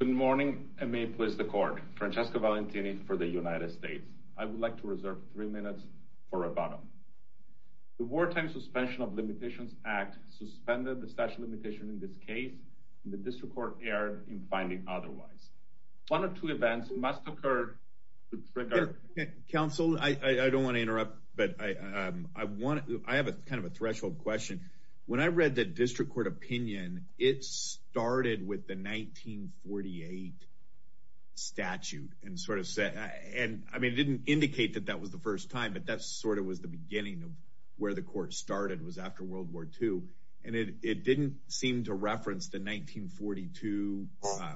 Good morning and may it please the court. Francesco Valentini for the United States. I would like to reserve three minutes for rebuttal. The wartime suspension of limitations act suspended the statute of limitations in this case, and the district court erred in finding otherwise. One or two events must occur to trigger- Counsel I don't want to interrupt, but I have a kind of a threshold question. When I read the district court opinion, it started with the 1948 statute. It didn't indicate that that was the first time, but that sort of was the beginning of where the court started was after World War II. It didn't seem to reference the 1942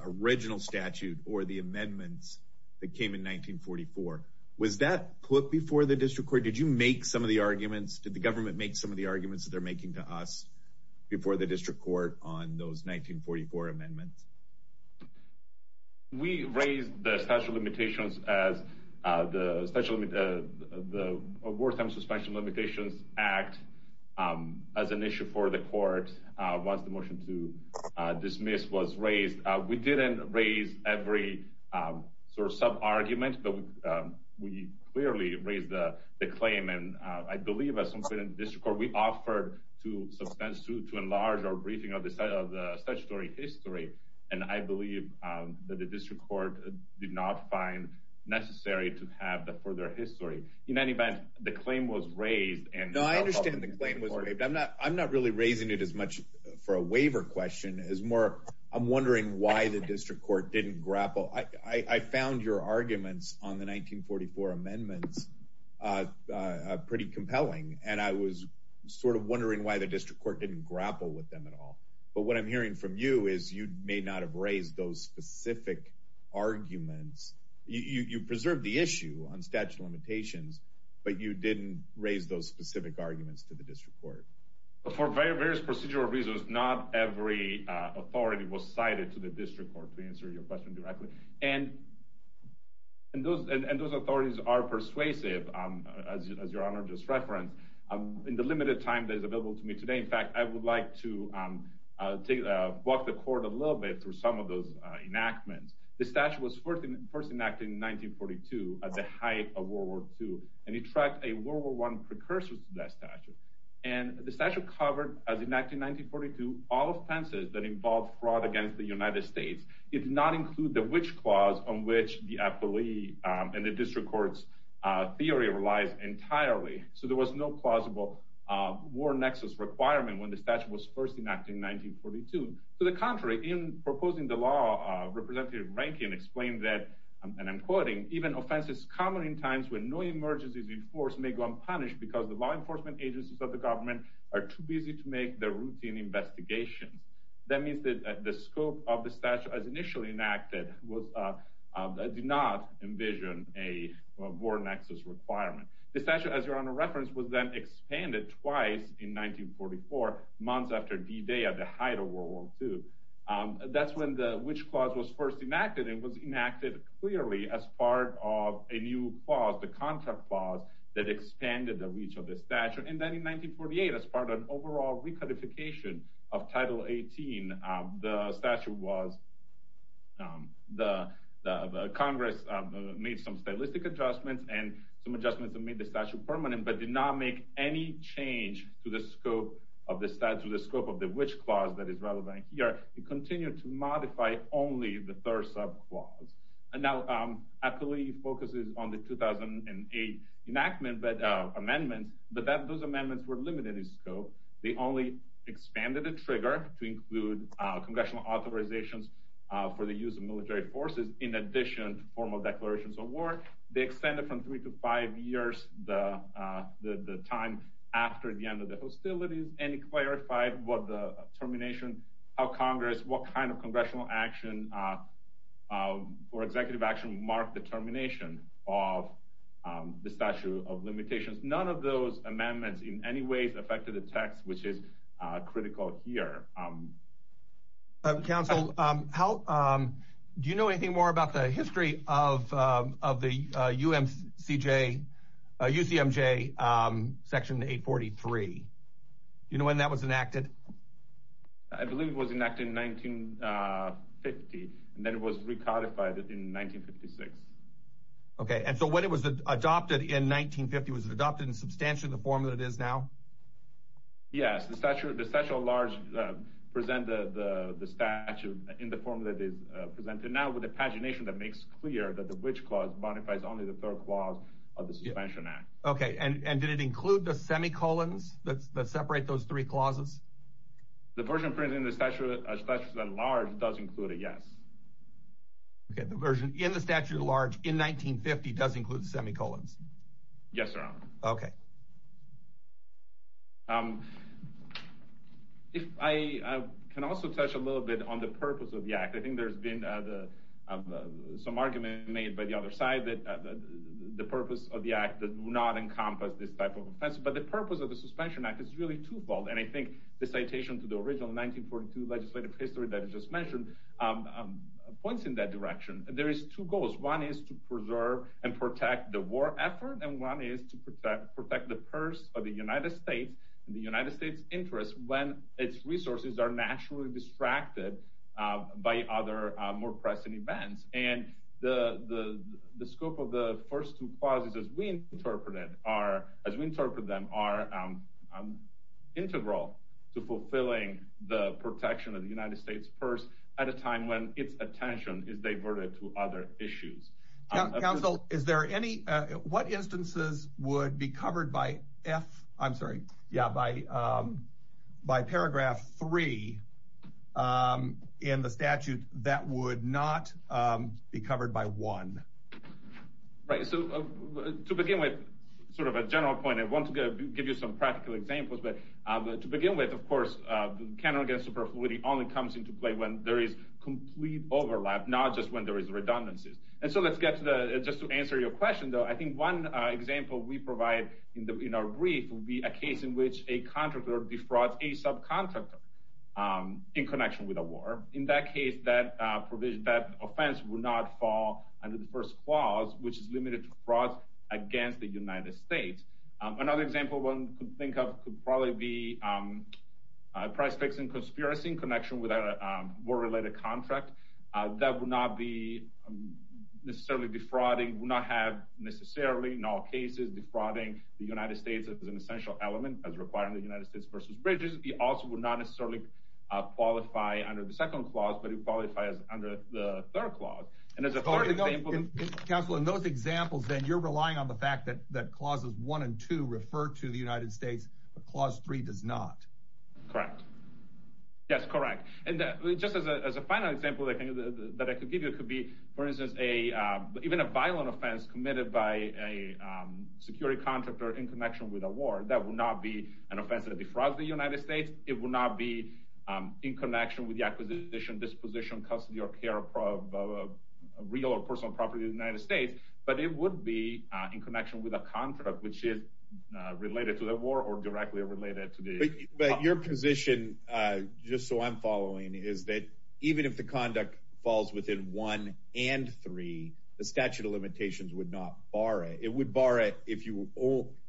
original statute or the amendments that came in 1944. Was that put before the district court? Did you make some of the arguments? Did the government make some of the arguments that they're making to us before the district court on those 1944 amendments? We raised the statute of limitations as the wartime suspension of limitations act as an issue for the court once the motion to dismiss was raised. We didn't raise every sort of sub-argument, but we clearly raised the claim. And I believe as something in the district court, we offered to enlarge our briefing of the statutory history. And I believe that the district court did not find necessary to have the further history. In any event, the claim was raised. No, I understand the claim was raised. I'm not really raising it as much for a waiver question as more I'm wondering why the district court didn't grapple. I found your arguments on the 1944 amendments pretty compelling, and I was sort of wondering why the district court didn't grapple with them at all. But what I'm hearing from you is you may not have raised those specific arguments. You preserved the issue on statute of limitations, but you didn't raise those specific arguments to the district court. For various procedural reasons, not every authority was cited to the district court to answer your question directly. And those authorities are persuasive, as Your Honor just referenced. In the limited time that is available to me today, in fact, I would like to walk the court a little bit through some of those enactments. The statute was first enacted in 1942 at the height of World War II, and it tracked a World War I precursor to that statute. And the statute covered, as enacted in 1942, all offenses that involved fraud against the United States. It did not include the which clause on which the appellee and the district court's theory relies entirely. So there was no plausible war nexus requirement when the statute was first enacted in 1942. To the contrary, in proposing the law, Representative Rankin explained that, and I'm quoting, even offenses common in times when no emergency is enforced may go unpunished because the law enforcement agencies of the government are too busy to make the routine investigations. That means that the scope of the statute as initially enacted did not envision a war nexus requirement. The statute, as Your Honor referenced, was then expanded twice in 1944, months after D-Day, at the height of World War II. That's when the which clause was first enacted, and it was enacted clearly as part of a new clause, the contract clause, that expanded the reach of the statute. And then in 1948, as part of an overall reclassification of Title 18, the statute was—Congress made some stylistic adjustments and some adjustments that made the statute permanent, but did not make any change to the scope of the statute, the scope of the which clause that is relevant here. It continued to modify only the third subclause. And now, I believe, focuses on the 2008 enactment amendments, but those amendments were limited in scope. They only expanded the trigger to include congressional authorizations for the use of military forces, in addition to formal declarations of war. They extended from three to five years, the time after the end of the termination, how Congress, what kind of congressional action or executive action marked the termination of the statute of limitations. None of those amendments in any way affected the text, which is critical here. Counsel, do you know anything more about the history of the UCMJ Section 843? You know when that was enacted? I believe it was enacted in 1950, and then it was recodified in 1956. Okay, and so when it was adopted in 1950, was it adopted in substantially the form that it is now? Yes, the statute at large presented the statute in the form that it is presented now, with a pagination that makes clear that the which clause modifies only the third clause of the Suspension Act. Okay, and did it include the semicolons that separate those three clauses? The version printed in the statute at large does include it, yes. Okay, the version in the statute at large in 1950 does include semicolons? Yes, Your Honor. Okay. If I can also touch a little bit on the purpose of the Act, I think there's been some argument made by the other side that the purpose of the Act did not encompass this type of offense. But the purpose of the Suspension Act is really twofold. And I think the citation to the original 1942 legislative history that you just mentioned points in that direction. There is two goals. One is to preserve and protect the war effort, and one is to protect the purse of the United States and the United States' interests when its resources are naturally distracted by other more pressing events. And the scope of the first two clauses, as we interpret them, are integral to fulfilling the protection of the United States' purse at a time when its attention is diverted to other issues. Counsel, is there any what instances would be covered by F, I'm sorry, yeah, by by paragraph three in the statute that would not be covered by one? Right. So to begin with, sort of a general point, I want to give you some practical examples. But to begin with, of course, the canon against superfluity only comes into play when there is complete overlap, not just when there is redundancies. And so let's get to the just to answer your question, though, I think one example we provide in our brief will be a case in which a contractor defrauds a subcontractor in connection with a war. In that case, that provision, that offense will not fall under the first clause, which is limited to fraud against the United States. Another example one could think of could probably be a price fixing conspiracy in connection with a war related contract that would not be necessarily defrauding, would not have necessarily in all cases defrauding the United States as an essential element as required in the United States versus bridges. It also would not necessarily qualify under the second clause, but it qualifies under the third clause. And as far as I know, in those examples, then you're relying on the fact that clauses one and two refer to the United States, but clause three does not. Correct. Yes, correct. And just as a final example that I could give you, it could be, for instance, a even a violent offense committed by a security contractor in connection with a war that would not be an offense that defrauds the United States. It will not be in connection with the acquisition, disposition, custody or care of a real or personal property in the United States. But it would be in connection with a contract which is related to the war or directly related to the. But your position, just so I'm following, is that even if the conduct falls within one and three, the statute of limitations would not bar it. It would bar it if you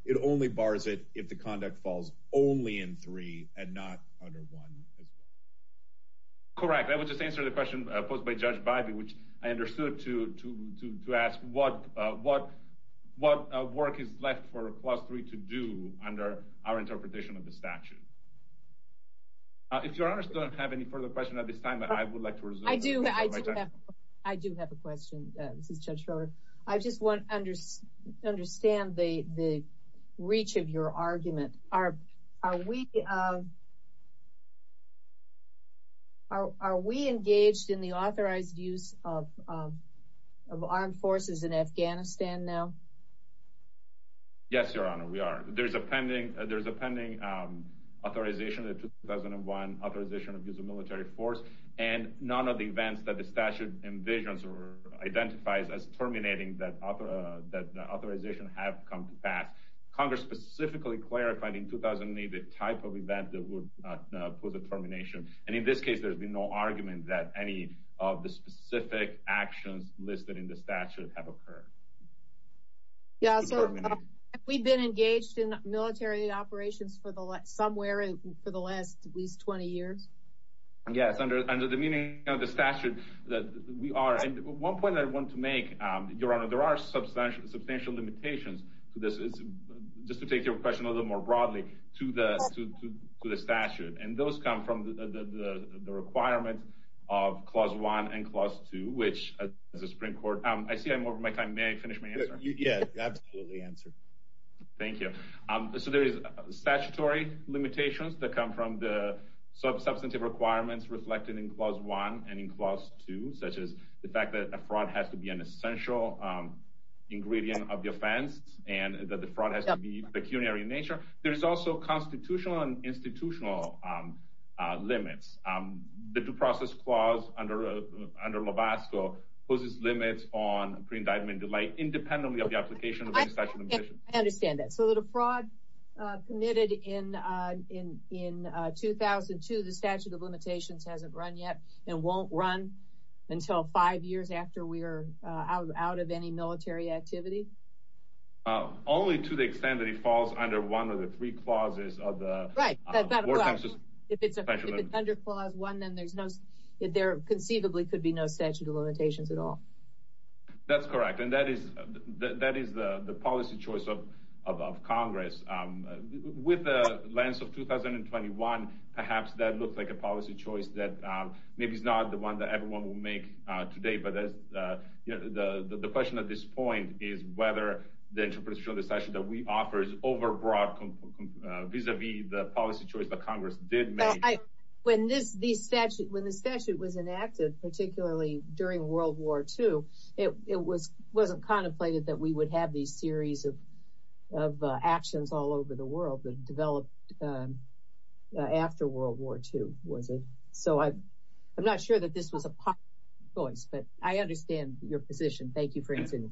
it only bars it if the conduct falls only in three and not under one. Correct, I would just answer the question posed by Judge Bybee, which I understood it to to to to ask what what what work is left for a class three to do under our interpretation of the statute. If you're honest, don't have any further question at this time, but I would like to resume. I do. I do have I do have a question. This is Judge Schroeder. I just want to understand the the reach of your argument. Are are we. Are we engaged in the authorized use of of armed forces in Afghanistan now? Yes, Your Honor, we are. There's a pending there's a pending authorization that 2001 authorization of use of military force and none of the events that the statute envisions or identifies as terminating that that authorization have come to pass. Congress specifically clarified in 2008 the type of event that would put the termination. And in this case, there's been no argument that any of the specific actions listed in the statute have occurred. Yeah, so we've been engaged in military operations for the somewhere for the last least 20 years. Yes, under under the meaning of the statute that we are. And one point I want to make, Your Honor, there are substantial, substantial limitations to this. It's just to take your question a little more broadly to the to the statute. And those come from the requirements of Clause one and Clause two, which is a Supreme Court. I see I'm over my time. May I finish my answer? Yeah, absolutely. Answer. Thank you. So there is statutory limitations that come from the substantive requirements reflected in Clause one and in Clause two, such as the fact that a fraud has to be an essential ingredient of the offense and that the fraud has to be pecuniary in nature. There's also constitutional and institutional limits. The due process clause under under Lovasco poses limits on pre indictment delay, independently of the application of the statute. I understand that. So the fraud committed in in in 2002, the statute of out of any military activity? Only to the extent that it falls under one of the three clauses of the right. If it's under Clause one, then there's no if there conceivably could be no statute of limitations at all. That's correct. And that is that is the policy choice of of Congress with the lens of 2021. Perhaps that looks like a policy choice that maybe is not the one that everyone will make today. But the question at this point is whether the interpretation of the session that we offer is overbroad vis a vis the policy choice that Congress did make. When this the statute when the statute was enacted, particularly during World War two, it was wasn't contemplated that we would have these series of of actions all over the world that developed after World War two. So I'm not sure that this was a policy choice, but I understand your position. Thank you for answering.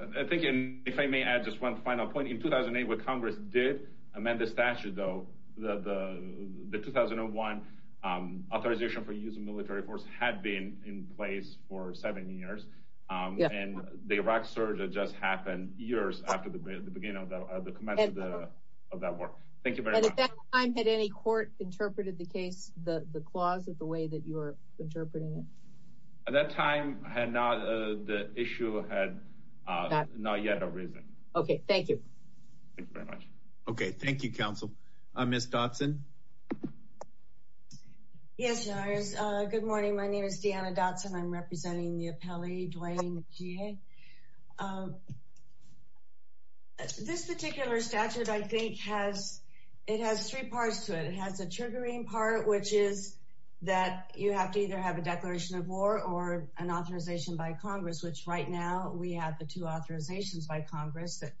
I think if I may add just one final point in 2008, what Congress did amend the statute, though, the 2001 authorization for use of military force had been in place for seven years. And the Iraq surge that just happened years after the beginning of the commencement of that war. Thank you. I'm at any court interpreted the case, the clause of the way that you are interpreting it at that time had not the issue had not yet arisen. OK, thank you. Thank you very much. OK, thank you, counsel. Miss Dodson. Yes, good morning, my name is Deanna Dodson, I'm representing the appellee, Dwayne G. This particular statute, I think, has it has three parts to it. It has a triggering part, which is that you have to either have a declaration of war or an authorization by Congress, which right now we have the two authorizations by Congress that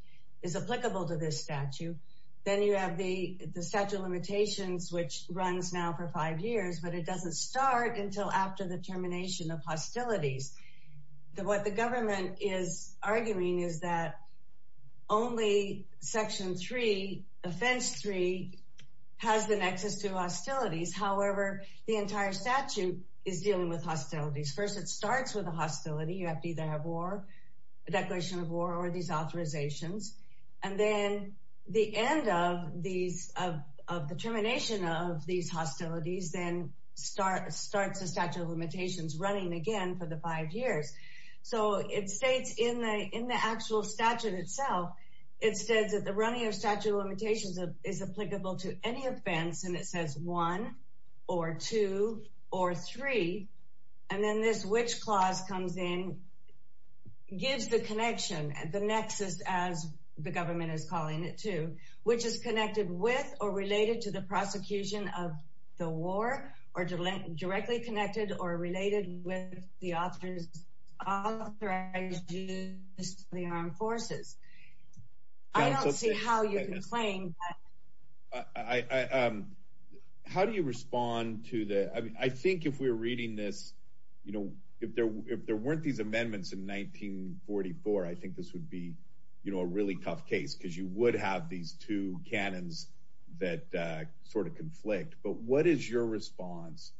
is applicable to this statute. Then you have the statute of limitations, which runs now for five years, but it doesn't start until after the termination of hostilities. What the government is arguing is that only section three, offense three, has the nexus to hostilities. However, the entire statute is dealing with hostilities. First, it starts with a hostility. You have to either have war, a declaration of war or these authorizations. And then the end of these of the termination of these hostilities then starts the statute of limitations running again for the five years. So it states in the in the actual statute itself, it says that the running of statute of limitations is applicable to any offense. And it says one or two or three. And then this which clause comes in, gives the connection, the nexus, as the government is prosecution of the war or directly connected or related with the author's authorization of the armed forces. I don't see how you can claim that. How do you respond to the, I mean, I think if we're reading this, you know, if there weren't these amendments in 1944, I think this would be, you know, a really tough case because you know, there's a lot of conflict, but what is your response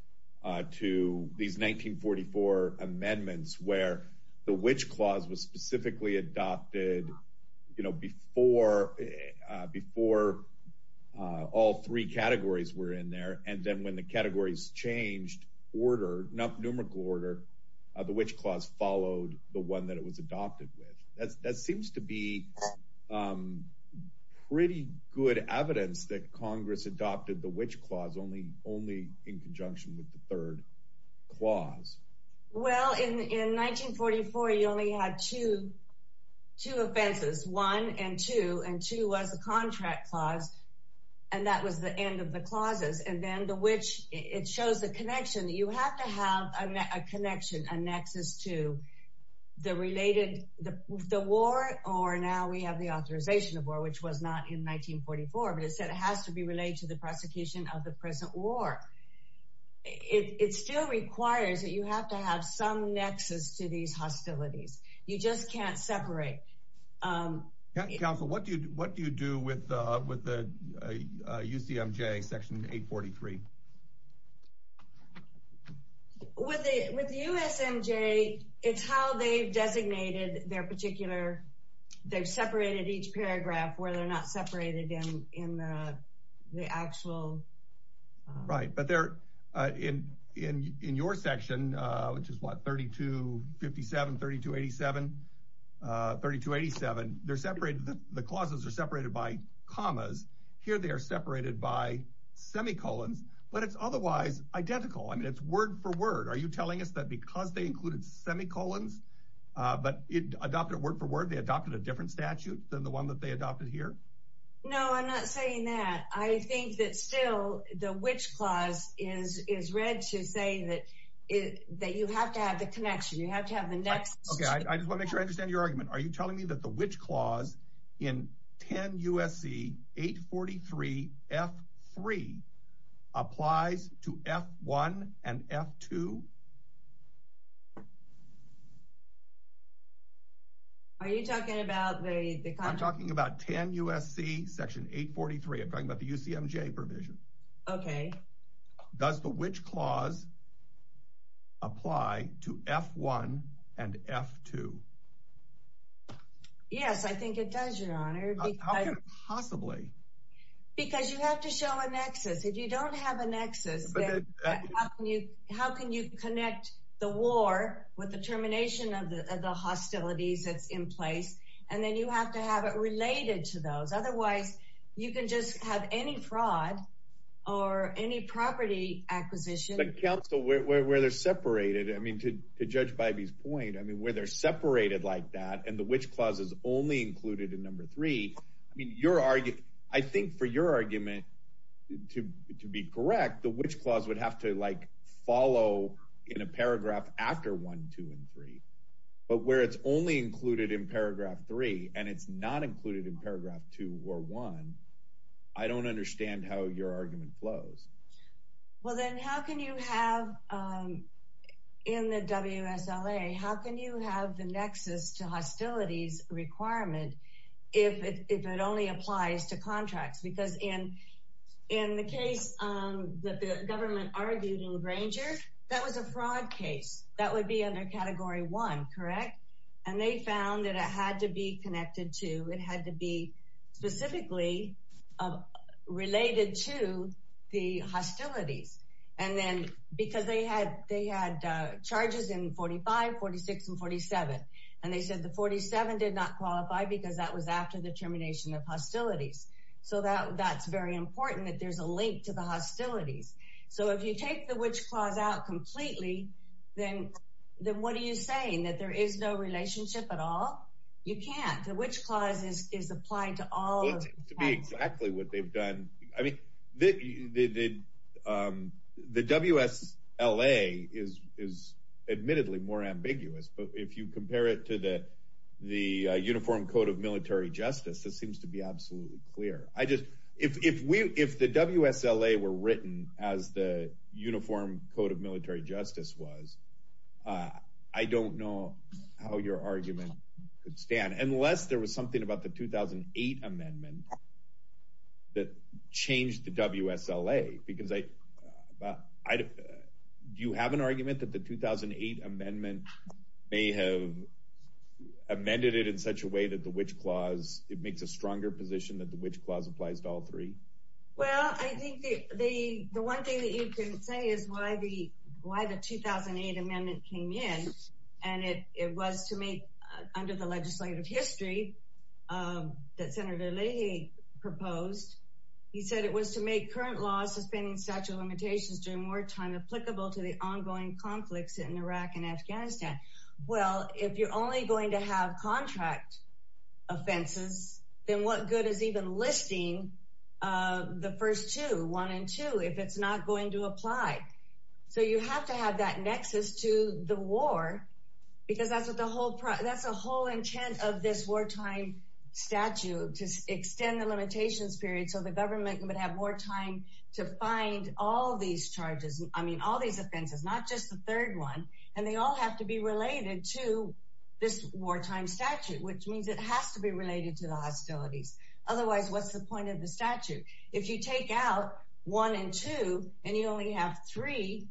to these 1944 amendments where the which clause was specifically adopted, you know, before, before all three categories were in there. And then when the categories changed order, numerical order, the which clause followed the one that it was adopted with. That seems to be pretty good evidence that Congress adopted the which clause only only in conjunction with the third clause. Well, in 1944, you only had two, two offenses, one and two, and two was a contract clause. And that was the end of the clauses. And then the which it shows the connection that you have to have a connection, a nexus to the related the war, or now we have the authorization of war, which was not in 1944. But it said it has to be related to the prosecution of the present war. It still requires that you have to have some nexus to these hostilities. You just can't separate. Counsel, what do you what do you do with with the UCMJ section 843? With the with the USMJ, it's how they've designated their particular, they've separated each paragraph where they're not separated in in the actual. Right. But they're in in in your section, which is what, 3257, 3287, 3287, they're separated. The clauses are separated by commas here. They are separated by semicolons, but it's otherwise identical. I mean, it's word for word. Are you telling us that because they included semicolons, but it adopted word for word, they adopted a different statute than the one that they adopted here? No, I'm not saying that. I think that still the which clause is is read to say that that you have to have the connection. You have to have the next. OK, I just want to make sure I understand your argument. Are you telling me that the which clause in 10 USC 843 F3 applies to F1 and F2? Are you talking about the I'm talking about 10 USC section 843, I'm talking about the UCMJ provision. OK, does the which clause. Apply to F1 and F2. Yes, I think it does, your honor, possibly because you have to show a nexus. If you don't have a nexus, how can you how can you connect the war with the termination of the hostilities that's in place? And then you have to have it related to those. Otherwise, you can just have any fraud or any property acquisition. But counsel, where they're separated, I mean, to judge by these point, I mean, where they're separated like that and the which clause is only included in number three. I mean, your argument, I think for your argument to to be correct, the which clause would have to like follow in a paragraph after one, two and three. But where it's only included in paragraph three and it's not included in paragraph two or one, I don't understand how your argument flows. Well, then how can you have in the WSLA, how can you have the nexus to hostilities requirement if it only applies to contracts, because in in the case that the government argued in Granger, that was a fraud case that would be under category one. Correct. And they found that it had to be connected to it had to be specifically related to the hostilities. And then because they had they had charges in forty five, forty six and forty seven. And they said the forty seven did not qualify because that was after the termination of hostilities. So that that's very important that there's a link to the hostilities. So if you take the which clause out completely, then then what are you saying that there is no relationship at all? You can't which clauses is applied to all to be exactly what they've done. I mean, the the WSLA is is admittedly more ambiguous. But if you compare it to the the Uniform Code of Military Justice, this seems to be absolutely clear. I just if we if the WSLA were written as the Uniform Code of Military Justice was, I don't know how your argument could stand unless there was something about the 2008 amendment that changed the WSLA. Because I do you have an argument that the 2008 amendment may have amended it in such a way that the which clause it makes a stronger position that the which clause applies to all three? Well, I think the one thing that you can say is why the why the 2008 amendment came in and it was to make under the legislative history that Senator Leahy proposed, he said it was to make current laws, suspending statute of limitations during wartime applicable to the ongoing conflicts in Iraq and Afghanistan. Well, if you're only going to have contract offenses, then what good is even listing the first two one and two if it's not going to apply? So you have to have that nexus to the war because that's what the whole that's a whole intent of this wartime statute to extend the limitations period. So the government would have more time to find all these charges. I mean, all these offenses, not just the third one. And they all have to be related to this wartime statute, which means it has to be related to the hostilities. Otherwise, what's the point of the statute? If you take out one and two and you only have three,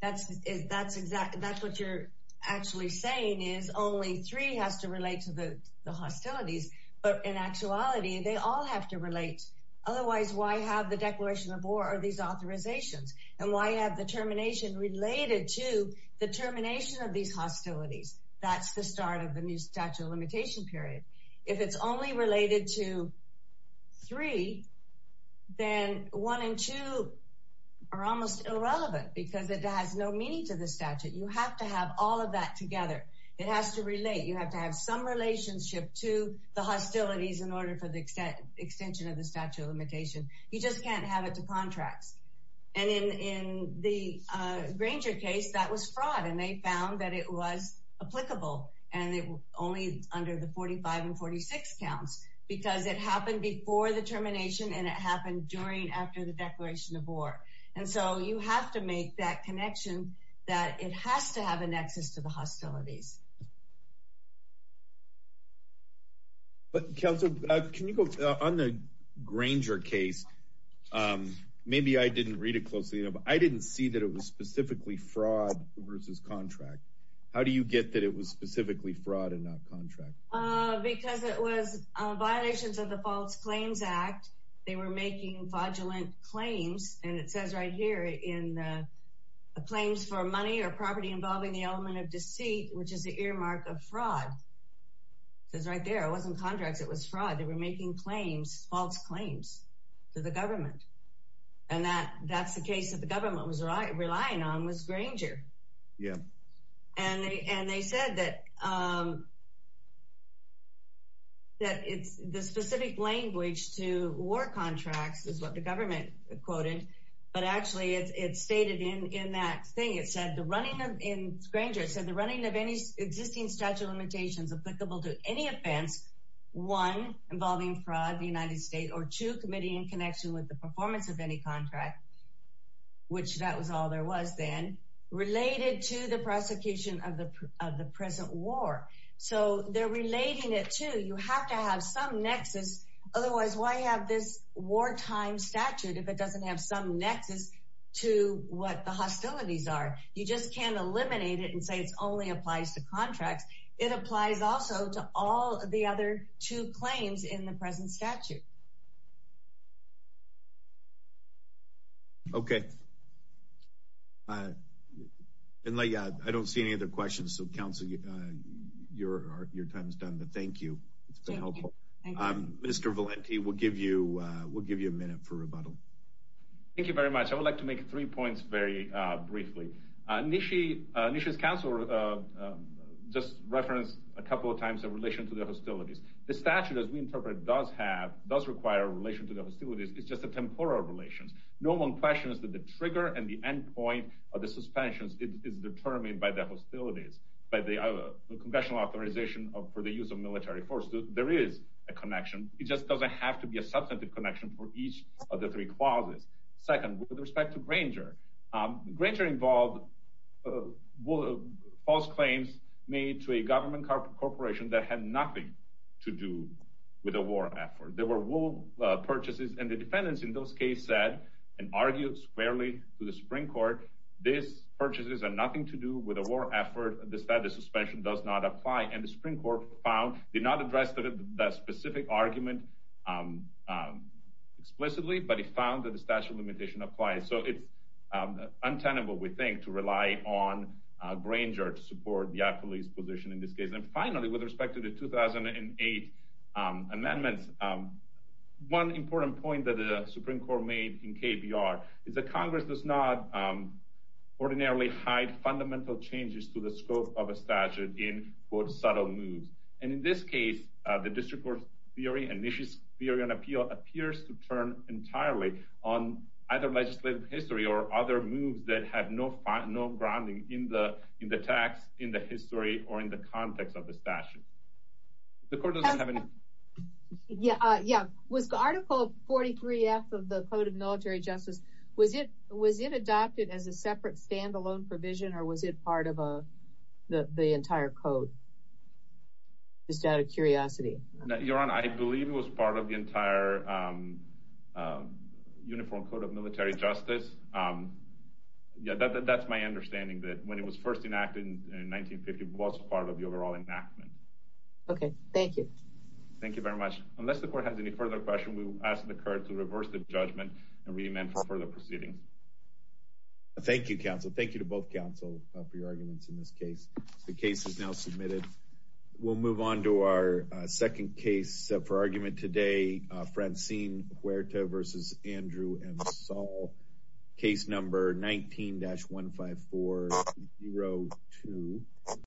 that's that's exactly that's what you're actually saying is only three has to relate to the hostilities. But in actuality, they all have to relate. Otherwise, why have the Declaration of War or these authorizations and why have the termination related to the termination of these hostilities? That's the start of the new statute of limitation period. If it's only related to three, then one and two are almost irrelevant because it has no meaning to the statute. You have to have all of that together. It has to relate. You have to have some relationship to the hostilities in order for the extension of the statute of limitation. You just can't have it to contracts. And in the Granger case, that was fraud. And they found that it was applicable and only under the 45 and 46 counts because it happened before the termination and it happened during after the Declaration of War. And so you have to make that connection that it has to have a nexus to the hostilities. But can you go on the Granger case? Maybe I didn't read it closely, but I didn't see that it was specifically fraud versus contract. How do you get that it was specifically fraud and not contract? Because it was violations of the False Claims Act. They were making fraudulent claims. And it says right here in the claims for money or property involving the element of deceit, which is the earmark of fraud. It's right there, it wasn't contracts, it was fraud. They were making claims, false claims to the government. And that that's the case that the government was relying on was Granger. Yeah. And they and they said that. That it's the specific language to war contracts is what the government quoted, but actually it's stated in that thing, it said the running in Granger said the running of any existing statute of limitations applicable to any offense, one involving fraud, the United States or two committee in connection with the performance of any contract, which that was all there was then related to the prosecution of the of the present war. So they're relating it to you have to have some nexus. Otherwise, why have this wartime statute if it doesn't have some nexus to what the hostilities are? You just can't eliminate it and say it only applies to contracts. It applies also to all the other two claims in the present statute. OK. And I don't see any other questions, so counsel, your your time is done, but thank you. It's been helpful. Mr. Valenti, we'll give you we'll give you a minute for rebuttal. Thank you very much. I would like to make three points very briefly. Nishi Nishi's counsel just referenced a couple of times in relation to the hostilities. The statute, as we interpret, does have does require a relation to the hostilities. It's just a temporal relations. No one questions that the trigger and the end point of the suspensions is determined by the hostilities, by the congressional authorization for the use of military force. There is a connection. It just doesn't have to be a substantive connection for each of the three clauses. Second, with respect to Granger, Granger involved false claims made to a government corporation that had nothing to do with a war effort. There were wool purchases and the defendants in those case said and argued squarely to the Supreme Court. These purchases are nothing to do with a war effort. The status suspension does not apply. And the Supreme Court found did not address that specific argument explicitly, but it found that the statute of limitation applies. So it's untenable, we think, to rely on Granger to support the police position in this case. And finally, with respect to the 2008 amendments, one important point that the Supreme Court made in KBR is that Congress does not ordinarily hide fundamental changes to the scope of a statute in, quote, subtle moves. And in this case, the district court's theory and issues theory and appeal appears to turn entirely on either legislative history or other moves that have no funding, no grounding in the in the tax, in the history or in the context of the statute. The court doesn't have any. Yeah. Yeah. Was the Article 43 of the Code of Military Justice, was it was it adopted as a separate standalone provision or was it part of the entire code? Just out of curiosity, Your Honor, I believe it was part of the entire Uniform Code of Military Justice. Yeah, that's my understanding that when it was first enacted in 1950, it was part of the overall enactment. OK, thank you. Thank you very much. Unless the court has any further questions, we will ask the court to reverse the judgment and re-amend for further proceedings. Thank you, counsel. Thank you to both counsel for your arguments in this case. The case is now submitted. We'll move on to our second case for argument today. Francine Huerta versus Andrew M. Case number 19-15402.